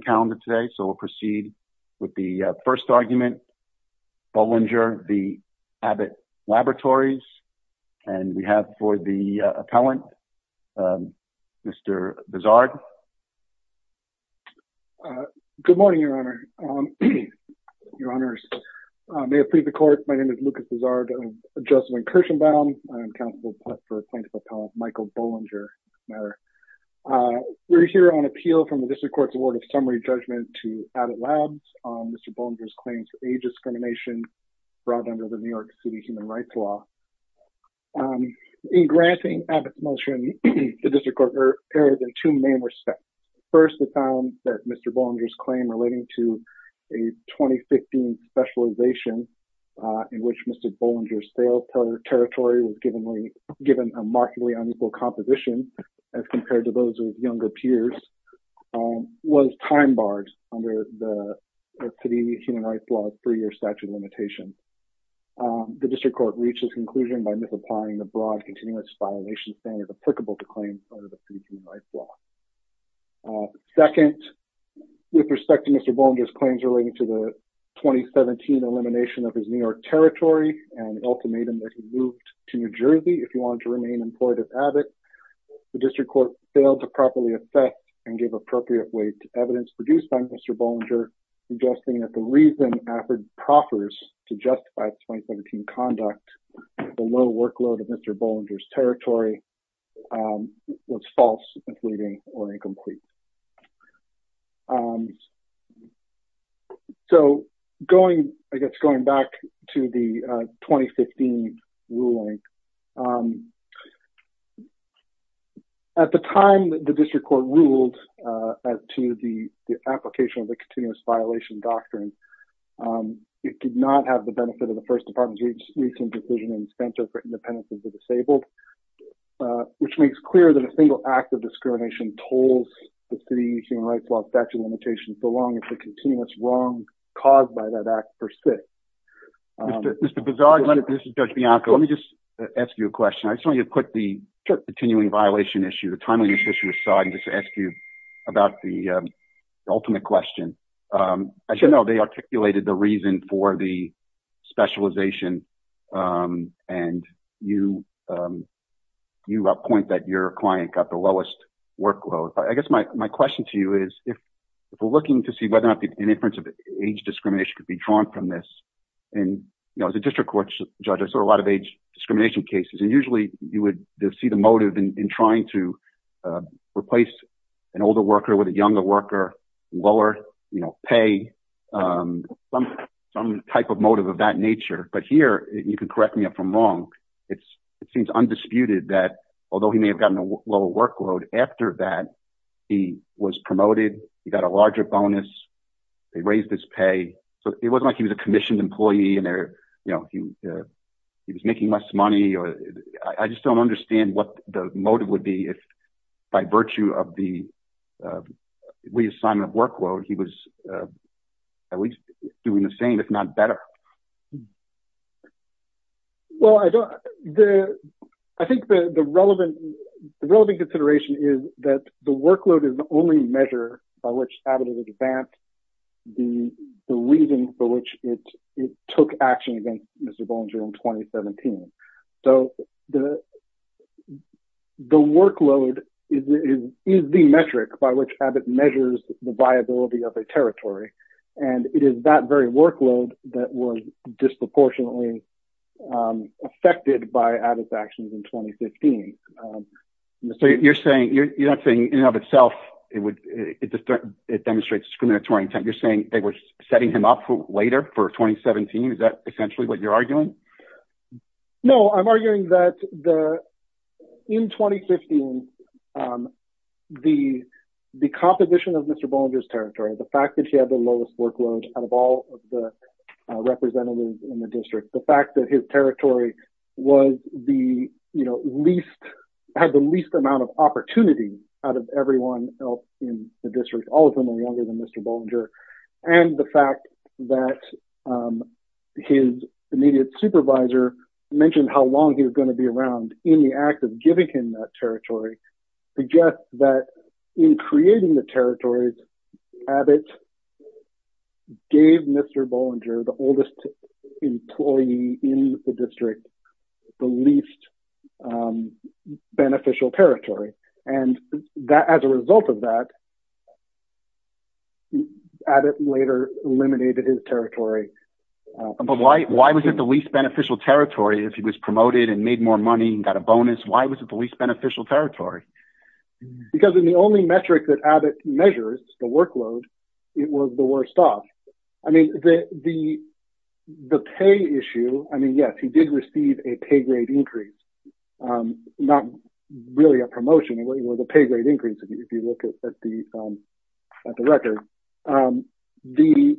calendar today so we'll proceed with the first argument Bollinger the Abbott laboratories and we have for the appellant mr. bizarre good morning your honor your honors may I plead the court my name is Lucas is art of adjustment Kirshenbaum I'm accountable for Michael Bollinger we're here on appeal from the judgment to Abbott labs mr. Bollinger's claims for age discrimination brought under the New York City human rights law in granting a motion the district court there are two main respects first the found that mr. Bollinger's claim relating to a 2015 specialization in which mr. Bollinger sales partner territory was given we given a markedly unequal composition as compared to those younger peers was time-barred under the city human rights laws for your statute limitation the district court reaches conclusion by misapplying the broad continuous violations and is applicable to claims under the city's new life law second with respect to mr. Bollinger's claims related to the 2017 elimination of his New York territory and ultimatum that he moved to New Jersey if you want to remain employed at Abbott the district court failed to properly assess and give appropriate weight to evidence produced by mr. Bollinger suggesting that the reason effort proffers to justify 2017 conduct the low workload of mr. Bollinger's territory was false misleading or incomplete so going I guess going back to the 2015 ruling at the time that the district court ruled as to the application of the continuous violation doctrine it did not have the benefit of the first department's recent decision and spent over independence of the disabled which makes clear that a single act of discrimination tolls the city human rights law statute limitation so long as continuous wrong caused by that act persists mr. bizarre let it mr. judge Bianco let me just ask you a question I just want you to put the continuing violation issue the timely issue aside and just ask you about the ultimate question I should know they articulated the reason for the specialization and you you up point that your client got the lowest workload I guess my question to you is if we're looking to see whether or not the difference of age discrimination could be drawn from this and you know as a district court judge I saw a lot of age discrimination cases and usually you would see the motive in trying to replace an older worker with a younger worker lower you know pay from some type of motive of that nature but here you can correct me up from wrong it's it seems undisputed that although he may have gotten a lower workload after that he was promoted he got a larger bonus they raised his pay so it wasn't like he was a commissioned employee and there you know he was making less money or I just don't understand what the motive would be if by virtue of the reassignment workload he was at least doing the same if not the workload is the only measure by which the reason for which it took action against mr. Bollinger in 2017 so the the workload is the metric by which Abbott measures the viability of a territory and it is that very workload that was disproportionately affected by Abbott's actions in 2015 so you're saying you're not saying in of itself it would it just it demonstrates discriminatory intent you're saying they were setting him up for later for 2017 is that essentially what you're arguing no I'm arguing that the in 2015 the the composition of mr. Bollinger's territory the fact that he had the lowest workload out of all of the representatives in the district the fact that his territory was the you know least had the least amount of opportunity out of everyone else in the district all of them are younger than mr. Bollinger and the fact that his immediate supervisor mentioned how long he was going to be around in the act of giving him that territory suggests that in creating the territories Abbott gave mr. Bollinger the oldest employee in the district the least beneficial territory and that as a result of that Abbott later eliminated his territory but why why was it the least beneficial territory if he was promoted and made more money and got a bonus why was it the least beneficial territory because in the only metric that Abbott measures the workload it was the worst off I mean the the the pay issue I mean yes he did receive a pay grade increase not really a promotion it was a pay grade increase if you look at the film at the record the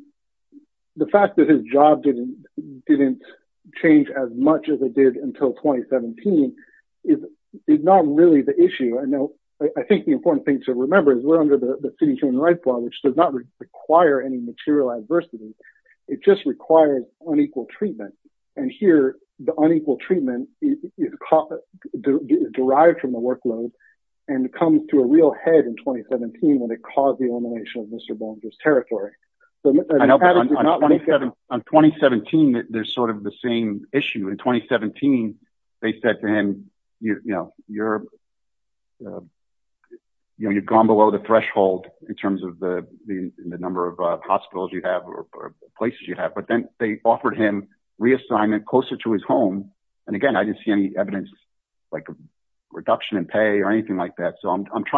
the fact that his job didn't didn't change as much as it did until 2017 is not really the issue I know I think the important thing to remember is we're under the city human rights law which does not require any material adversity it just requires unequal treatment and here the unequal treatment is caught derived from the workload and it comes to a real head in 2017 when it caused the elimination of mr. Bollinger's territory I know I'm not I'm trying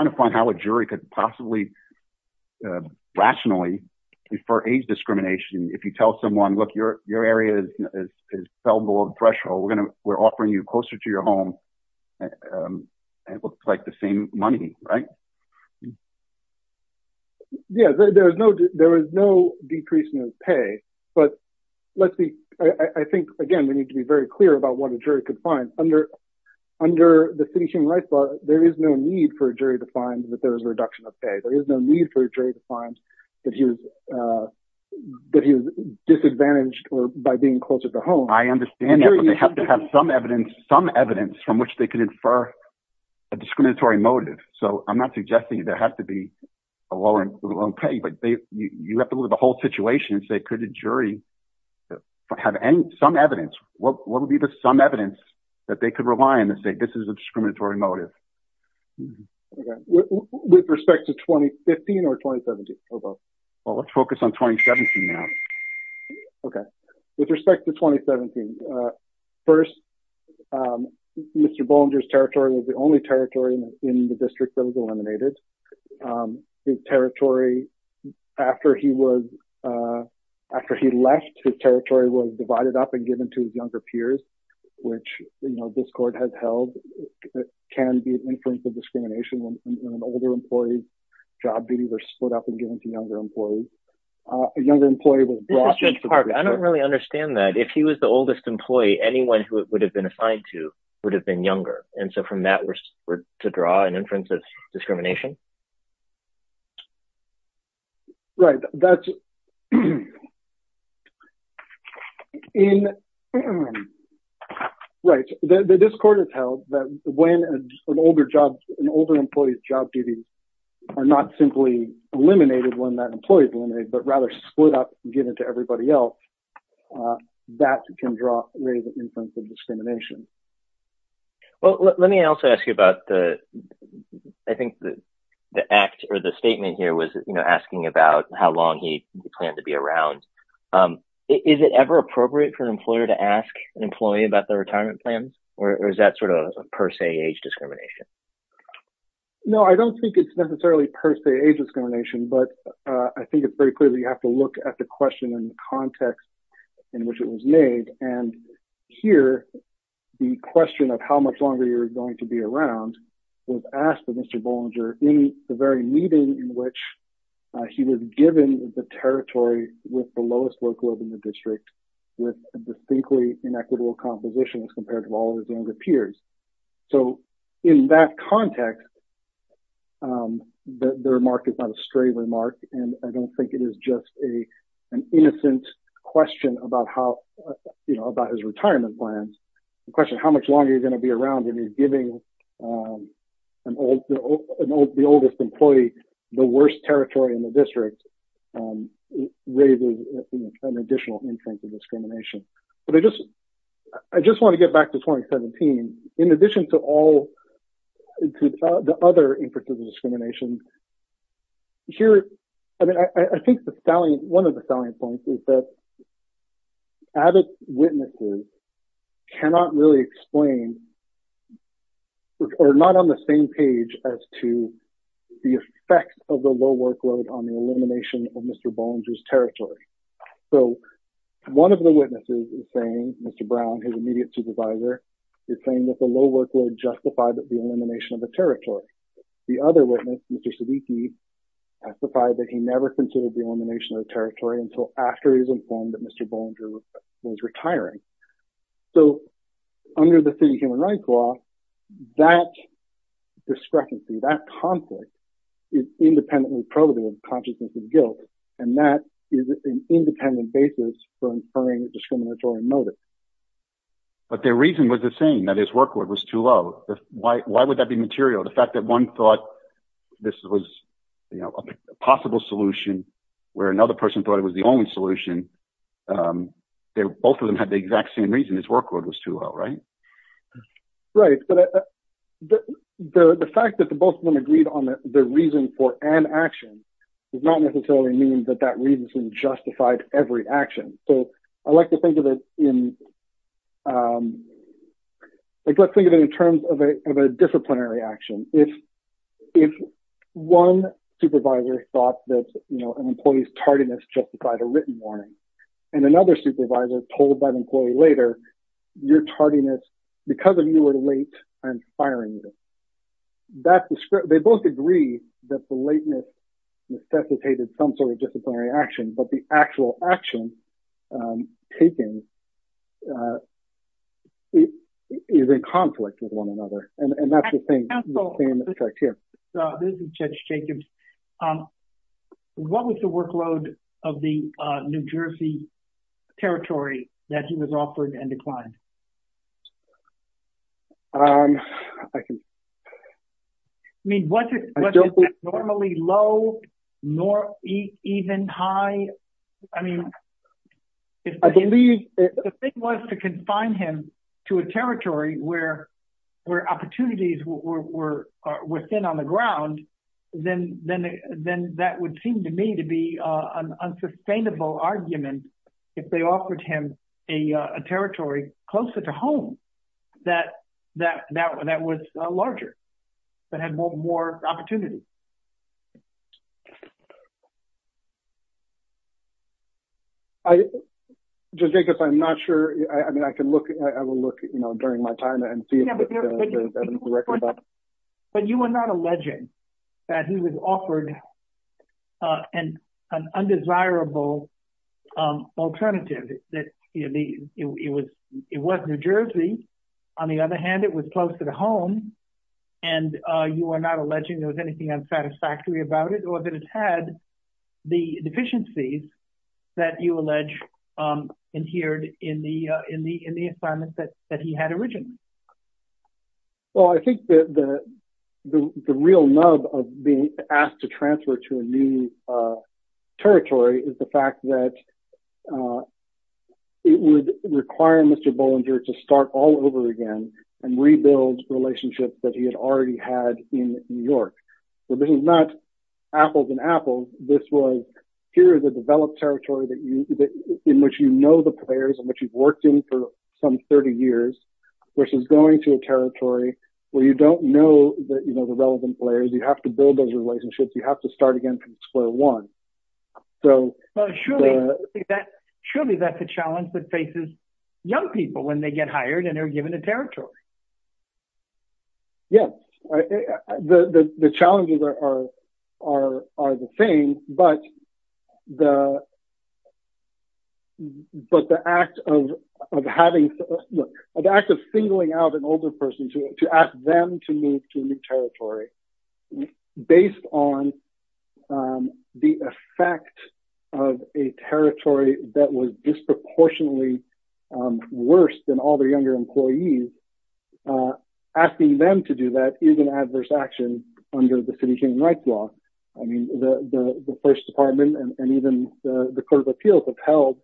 to find how a jury could possibly rationally refer age discrimination if you tell someone look your your area is fell below the we're offering you closer to your home it looks like the same money right yes there's no there is no decrease in his pay but let's be I think again we need to be very clear about what a jury could find under under the city human rights law there is no need for a jury to find that there is a reduction of pay there is no need for a jury to find that he was that he was disadvantaged or by being close at the home I understand you have to have some evidence some evidence from which they can infer a discriminatory motive so I'm not suggesting there has to be a low and low pay but they you have to look at the whole situation and say could a jury have any some evidence what would be the some evidence that they could rely on to say this is a discriminatory motive with respect to 2015 or 2017 well let's focus on 2017 now okay with respect to 2017 first mr. Bollinger's territory was the only territory in the district that was eliminated his territory after he was after he left his territory was divided up and given to his younger peers which you know this court has held can be an influence of discrimination when an older employee's job duties are split up and given to younger employees a younger employee will I don't really understand that if he was the oldest employee anyone who would have been assigned to would have been younger and so from that we're to draw an inference of discrimination right that's in right the discord is held that when an older job an older employee's job duties are not simply eliminated when that employees eliminate but rather split up give it to everybody else that can draw discrimination well let me also ask you about the I think the act or the statement here was you know asking about how long he planned to be around is it ever appropriate for an employer to ask an employee about the retirement plan or is that sort of a per se age discrimination no I don't think it's necessarily per se age discrimination but I think it's very clearly you have to look at the question in context in which it was made and here the question of how much longer you're going to be around was asked of mr. Bollinger in the very meeting in which he was given the territory with the lowest workload in the district with distinctly inequitable composition as compared to all of his younger peers so in that context the remark is not a stray remark and I don't think it is just a an innocent question about how you know about his retirement plans the question how much longer you're going to be around when he's giving an old the oldest employee the worst territory in the district raises an additional infant of discrimination but I just I just want to get back to 2017 in addition to all the other inferences of discrimination here I mean I think the stallion one of the selling points is that added witnesses cannot really explain or not on the same page as to the effect of the low workload on the elimination of mr. Bollinger's territory so one of the witnesses is saying mr. Brown his immediate supervisor is saying that the low workload justified that the elimination of the territory the other witness mr. VT testified that he never considered the elimination of territory until after he was informed that mr. Bollinger was retiring so under the city human rights law that discrepancy that conflict is independently probable of consciousness and guilt and that is an independent basis for inferring a discriminatory motive but their reason was the same that his workload was too low why would that be material the fact that one thought this was you know a possible solution where another person thought it was the only solution there both of them had the exact same reason this workload was too low right right but the fact that the both of them agreed on the reason for an action does not necessarily mean that that reason justified every action so I like to reaction if if one supervisor thought that you know an employee's tardiness justified a written warning and another supervisor told by the employee later you're tardiness because of you were late and firing you that's the script they both agree that the lateness necessitated some sort of disciplinary action but the actual action taking is a conflict with one another and that's the thing this is just Jacobs what was the workload of the New Jersey territory that he was offered and declined I mean what is normally low nor even high I mean I believe the thing was to confine him to a territory where where opportunities were within on the ground then then then that would seem to me to be an unsustainable argument if they offered him a territory closer to home that that that one that was larger but had more opportunities I just think I'm not sure I mean I can look at you know during my time and see but you are not alleging that he was offered and an undesirable alternative that it was it was New Jersey on the other hand it was close to the home and you are not alleging there was anything unsatisfactory about it or that it had the deficiencies that you allege adhered in the in the in the assignments that that he had originally well I think that the real nub of being asked to transfer to a new territory is the fact that it would require mr. Bollinger to start all over again and rebuild relationships that he had already had in New York so this is not apples and apples this was here is a developed territory that you that in which you know the players and what you've worked in for some 30 years versus going to a territory where you don't know that you know the relevant players you have to build those relationships you have to start again from square one so surely that surely that's a challenge that faces young people when they get hired and they're given a territory yes the challenges are are are the same but the but the act of having the act of singling out an older person to ask them to move to a new territory based on the effect of a territory that was disproportionately worse than all the under the City Human Rights Law I mean the the first department and even the Court of Appeals have held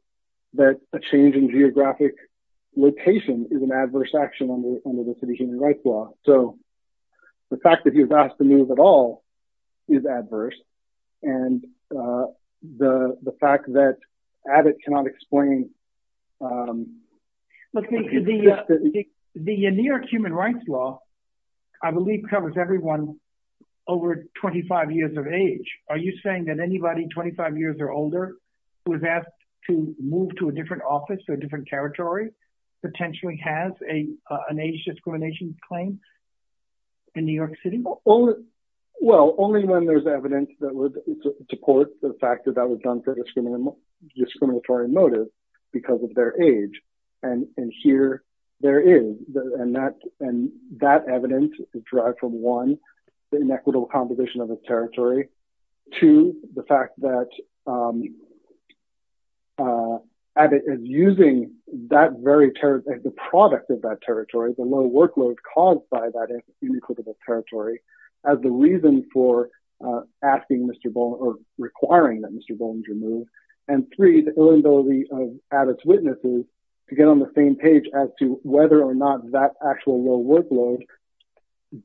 that a change in geographic location is an adverse action under the City Human Rights Law so the fact that he was asked to move at all is adverse and the the fact that Abbott cannot explain the New York Human Rights Law I believe covers everyone over 25 years of age are you saying that anybody 25 years or older was asked to move to a different office to a different territory potentially has a an age discrimination claim in New York City oh well only when there's evidence that would support the fact that that was done for this criminal discriminatory motive because of their age and and here there is and that and that evidence is derived from one the inequitable composition of the territory to the fact that Abbott is using that very terrorist as the product of that territory the low workload caused by that inequitable territory as the reason for asking mr. bone or requiring that mr. bone to move and three the ability of Abbott's witnesses to get on the same page as to whether or not that actual low workload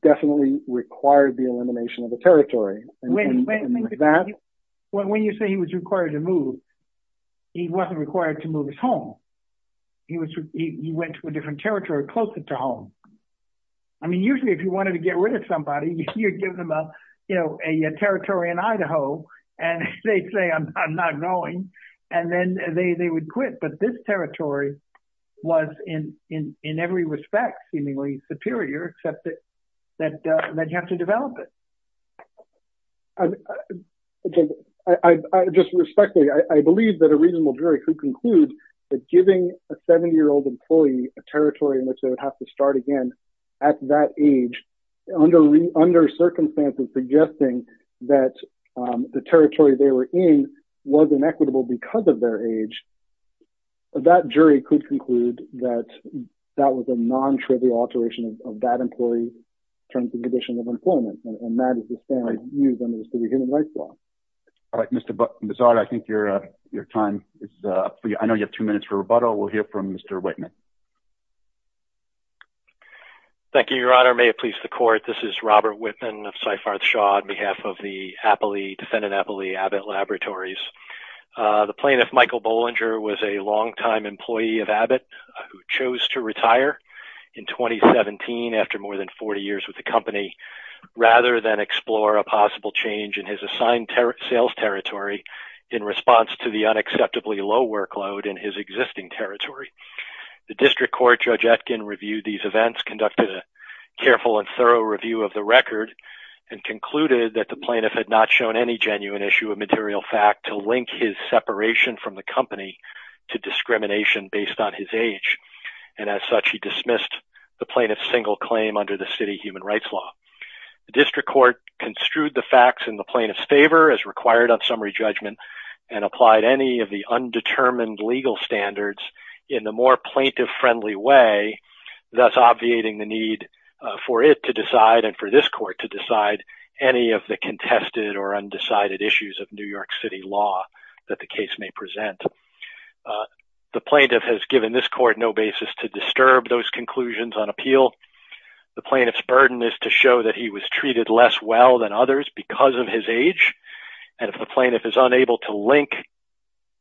definitely required the elimination of the territory when you say he was required to move he wasn't required to move his home he was he went to a different territory closer to home I mean usually if you wanted to get rid of somebody you'd give them up you know a territory in Idaho and they say I'm not going and then they they would quit but this territory was in in in every respect seemingly superior except that that they'd have to develop it okay I just respectfully I believe that a reasonable jury could conclude that giving a seven-year-old employee a territory in which they would have to start again at that age under under circumstances suggesting that the territory they were in was inequitable because of their age that jury could conclude that that was a non-trivial alteration of that employee terms and conditions of employment and that is the standard used under the city human rights law all right mr. but bizarre I think you're your time is I know you have two minutes for rebuttal we'll hear from mr. Whitman thank you your honor may it please the court this is Robert Whitman of Cyfarth Shaw on behalf of the Appley defendant Appley Abbott laboratories the plaintiff Michael Bollinger was a longtime employee of Abbott who chose to retire in 2017 after more than 40 years with the company rather than explore a possible change in his assigned sales territory in response to the unacceptably low workload in his existing territory the district court judge Atkin reviewed these events conducted a careful and and concluded that the plaintiff had not shown any genuine issue of material fact to link his separation from the company to discrimination based on his age and as such he dismissed the plaintiff's single claim under the city human rights law the district court construed the facts in the plaintiff's favor as required on summary judgment and applied any of the undetermined legal standards in the more plaintiff friendly way that's obviating the need for it to decide and for this court to decide any of the contested or undecided issues of New York City law that the case may present the plaintiff has given this court no basis to disturb those conclusions on appeal the plaintiff's burden is to show that he was treated less well than others because of his age and if the plaintiff is unable to link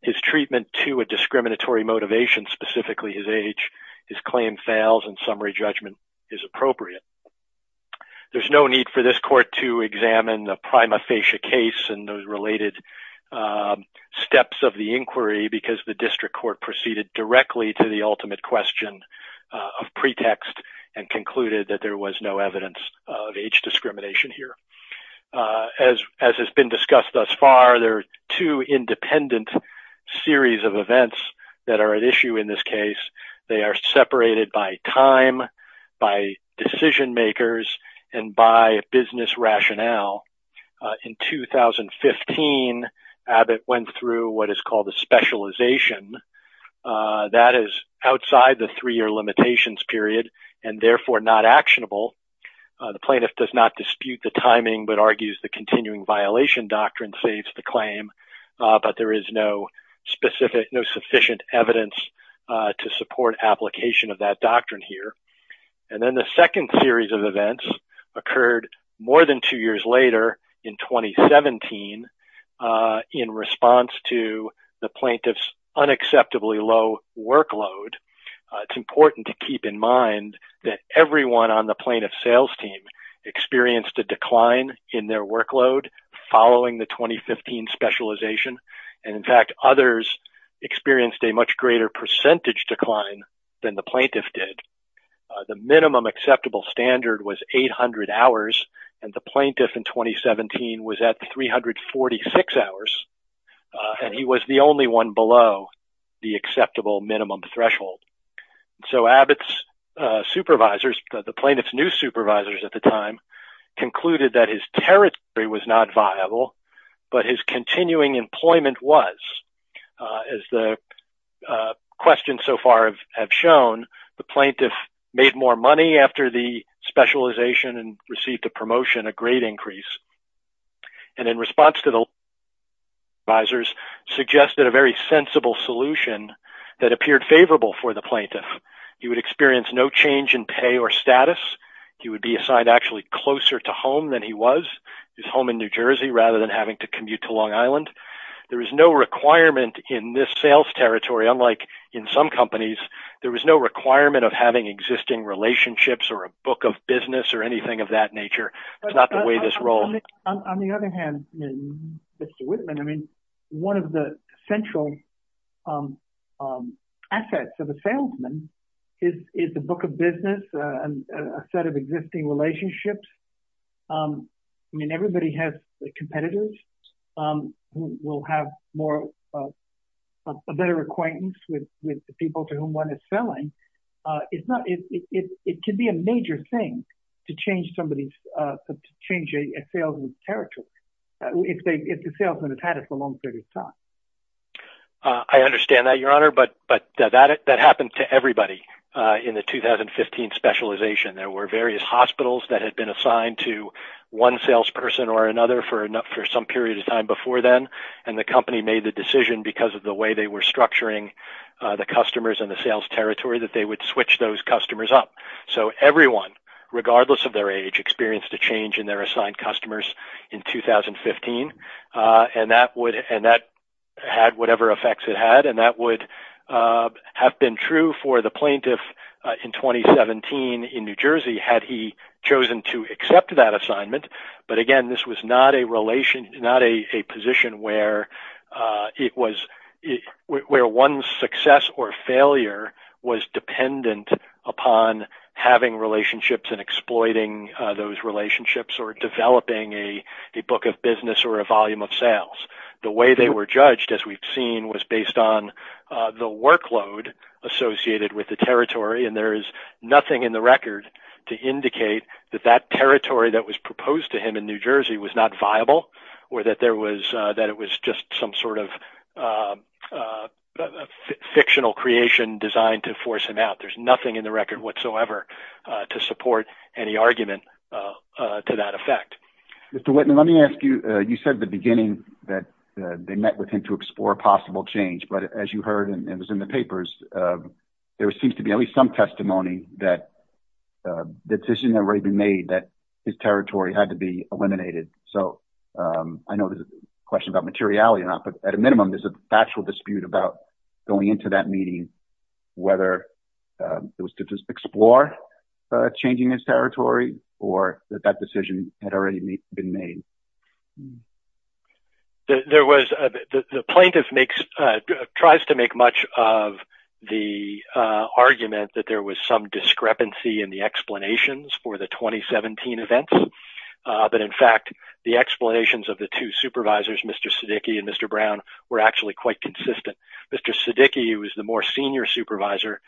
his treatment to a discriminatory motivation specifically his age his claim fails and summary judgment is appropriate there's no need for this court to examine the prima facie case and those related steps of the inquiry because the district court proceeded directly to the ultimate question of pretext and concluded that there was no evidence of age discrimination here as has been discussed thus far there are two independent series of events that are at by time by decision makers and by business rationale in 2015 Abbott went through what is called a specialization that is outside the three-year limitations period and therefore not actionable the plaintiff does not dispute the timing but argues the continuing violation doctrine saves the claim but there is no specific no sufficient evidence to support application of that doctrine here and then the second series of events occurred more than two years later in 2017 in response to the plaintiff's unacceptably low workload it's important to keep in mind that everyone on the plaintiff sales team experienced a decline in their workload following the 2015 specialization and in fact others experienced a much greater percentage decline than the plaintiff did the minimum acceptable standard was 800 hours and the plaintiff in 2017 was at 346 hours and he was the only one below the acceptable minimum threshold so Abbott's supervisors the plaintiff's new supervisors at the time concluded that his territory was not viable but his have shown the plaintiff made more money after the specialization and received a promotion a great increase and in response to the visors suggested a very sensible solution that appeared favorable for the plaintiff he would experience no change in pay or status he would be assigned actually closer to home than he was his home in New Jersey rather than having to commute to Long Island there is no requirement in this sales territory unlike in some companies there was no requirement of having existing relationships or a book of business or anything of that nature it's not the way this role on the other hand I mean one of the central assets of a salesman is is the book of business and a set of existing relationships I mean everybody has competitors will have a better acquaintance with the people to whom one is selling it's not it could be a major thing to change somebody's changing a salesman's territory if they if the salesman has had it for a long period of time I understand that your honor but but that it that happened to everybody in the 2015 specialization there were various hospitals that had been assigned to one salesperson or then and the company made the decision because of the way they were structuring the customers and the sales territory that they would switch those customers up so everyone regardless of their age experienced a change in their assigned customers in 2015 and that would and that had whatever effects it had and that would have been true for the plaintiff in 2017 in New Jersey had he chosen to accept that assignment but again this was not a relation not a position where it was where one success or failure was dependent upon having relationships and exploiting those relationships or developing a book of business or a volume of sales the way they were judged as we've seen was based on the workload associated with the territory and there is nothing in the record to indicate that that territory that was proposed to him in New Jersey was not viable or that there was that it was just some sort of fictional creation designed to force him out there's nothing in the record whatsoever to support any argument to that effect. Mr. Whitman let me ask you you said the beginning that they met with him to explore possible change but as you heard and it was in the papers there seems to be at least some testimony that the territory had to be eliminated so I know there's a question about materiality and I put at a minimum there's a factual dispute about going into that meeting whether it was to just explore changing his territory or that that decision had already been made. There was the plaintiff makes tries to make much of the argument that there was some discrepancy in the explanations for the 2017 events but in fact the explanations of the two supervisors Mr. Siddiqui and Mr. Brown were actually quite consistent. Mr. Siddiqui who is the more senior supervisor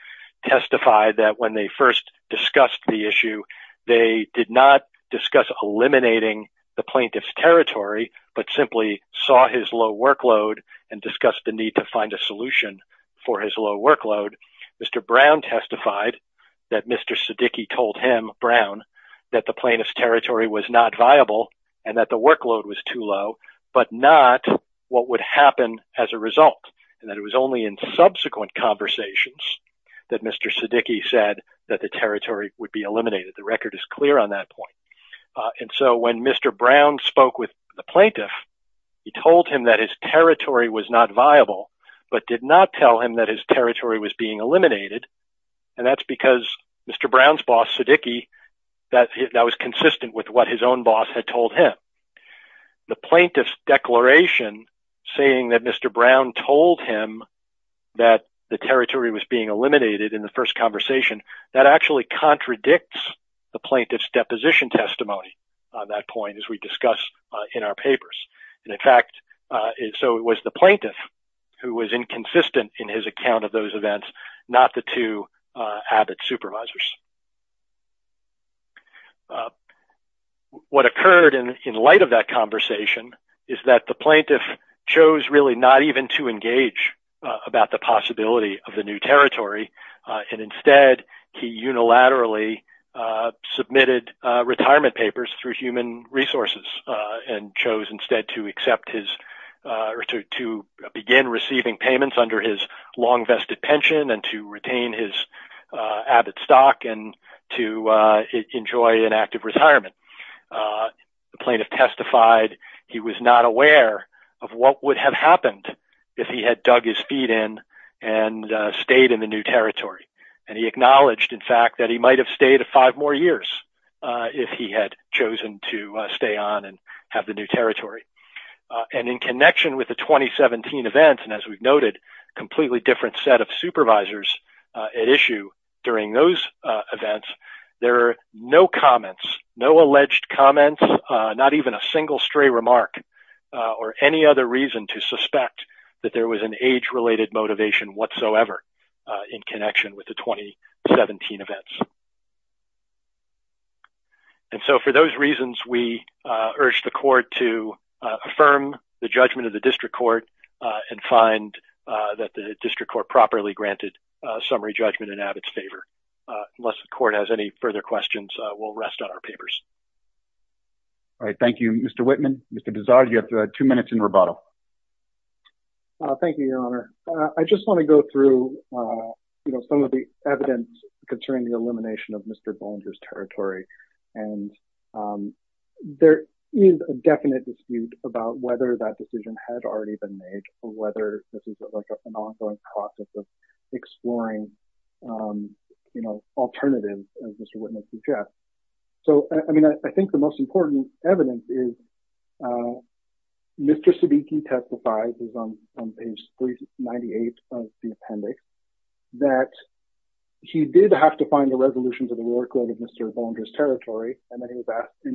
testified that when they first discussed the issue they did not discuss eliminating the plaintiff's territory but simply saw his low workload and discussed the need to find a solution for his low workload. Mr. Brown testified that Mr. Siddiqui told him, Brown, that the plaintiff's territory was not viable and that the workload was too low but not what would happen as a result and that it was only in subsequent conversations that Mr. Siddiqui said that the territory would be eliminated. The record is clear on that point and so when Mr. Brown spoke with the plaintiff he told him that his territory was not viable but did not tell him that his territory was being eliminated and that's because Mr. Brown's boss Siddiqui that was consistent with what his own boss had told him. The plaintiff's declaration saying that Mr. Brown told him that the territory was being eliminated in the first conversation that actually contradicts the plaintiff's deposition testimony on that point as we discussed in our papers and in fact so it was the two Abbott supervisors. What occurred in light of that conversation is that the plaintiff chose really not even to engage about the possibility of the new territory and instead he unilaterally submitted retirement papers through human resources and chose instead to accept his or to begin receiving payments under his long-vested pension and to retain his Abbott stock and to enjoy an active retirement. The plaintiff testified he was not aware of what would have happened if he had dug his feet in and stayed in the new territory and he acknowledged in fact that he might have stayed five more years if he had chosen to stay on and have the new territory and in connection with the 2017 events and as we've noted completely different set of supervisors at issue during those events there are no comments, no alleged comments, not even a single stray remark or any other reason to suspect that there was an age-related motivation whatsoever in connection with the 2017 events and so for those reasons we urge the court to affirm the judgment of the district court and find that the district court properly granted summary judgment in Abbott's favor. Unless the court has any further questions we'll rest on our papers. All right, thank you Mr. Whitman. Mr. Bizarre, you have two minutes in rebuttal. Thank you, your honor. I just want to go through some of the evidence concerning the definite dispute about whether that decision had already been made or whether this is an ongoing process of exploring, you know, alternatives as Mr. Whitman suggests. So I mean I think the most important evidence is Mr. Sabiki testifies on page 98 of the appendix that he did have to find the resolution to the workload of Mr. Bollinger's territory and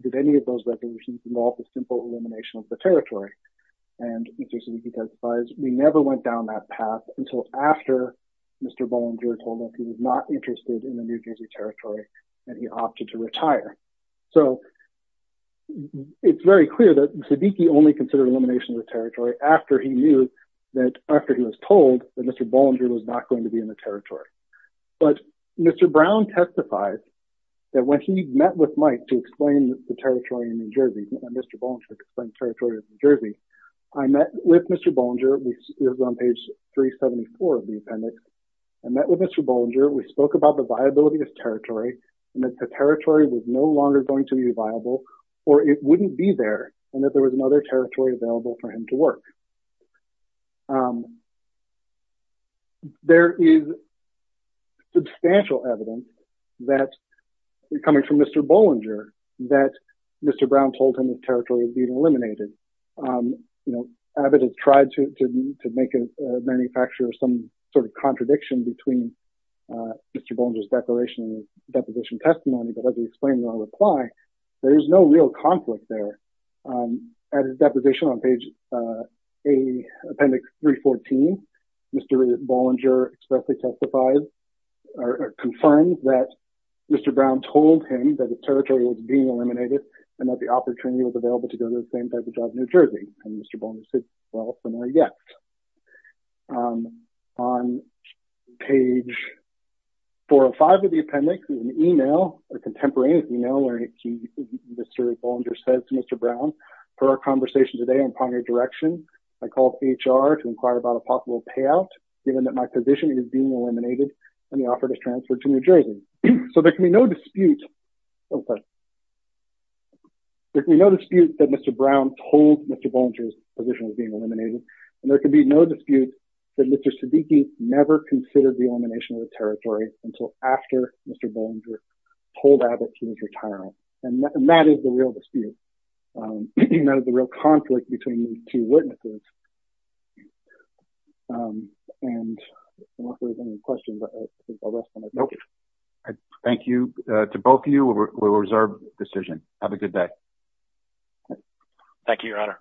did any of those resolutions involve a simple elimination of the territory and Mr. Sabiki testifies we never went down that path until after Mr. Bollinger told us he was not interested in the New Jersey territory and he opted to retire. So it's very clear that Sabiki only considered elimination of the territory after he knew that, after he was told that Mr. Bollinger was not going to be in the territory. But Mr. Brown testifies that when he met with Mike to explain the territory of New Jersey, I met with Mr. Bollinger, this is on page 374 of the appendix, I met with Mr. Bollinger, we spoke about the viability of territory and that the territory was no longer going to be viable or it wouldn't be there and that there was another territory available for him to work. There is substantial evidence that, coming from Mr. Bollinger, that Mr. Brown told him his territory was being eliminated. You know, Abbott has tried to make a manufacturer some sort of contradiction between Mr. Bollinger's declaration and his deposition testimony, but as we explained in our reply, there is no real conflict there. At his deposition on page A, appendix 314, Mr. Bollinger expressly testifies or confirms that Mr. Brown told him that his territory was being eliminated and that the opportunity was available to go to the same type of job in New Jersey. And Mr. Bollinger said, well, when I get on page 405 of the appendix, there's an email, a contemporaneous email, where Mr. Bollinger says to Mr. Brown, for our conversation today on primary direction, I called HR to inquire about a possible payout given that my position is being eliminated and offered a transfer to New Jersey. So there can be no dispute that Mr. Brown told Mr. Bollinger's position was being eliminated, and there can be no dispute that Mr. Siddiqui never considered the elimination of the territory until after Mr. Bollinger told Abbott he was retiring. And that is the real dispute. That is the real conflict between these two witnesses. And I don't know if there's any questions. I think I'll rest my time here. Thank you. To both of you, we will reserve the decision. Have a good day. Thank you, Your Honor.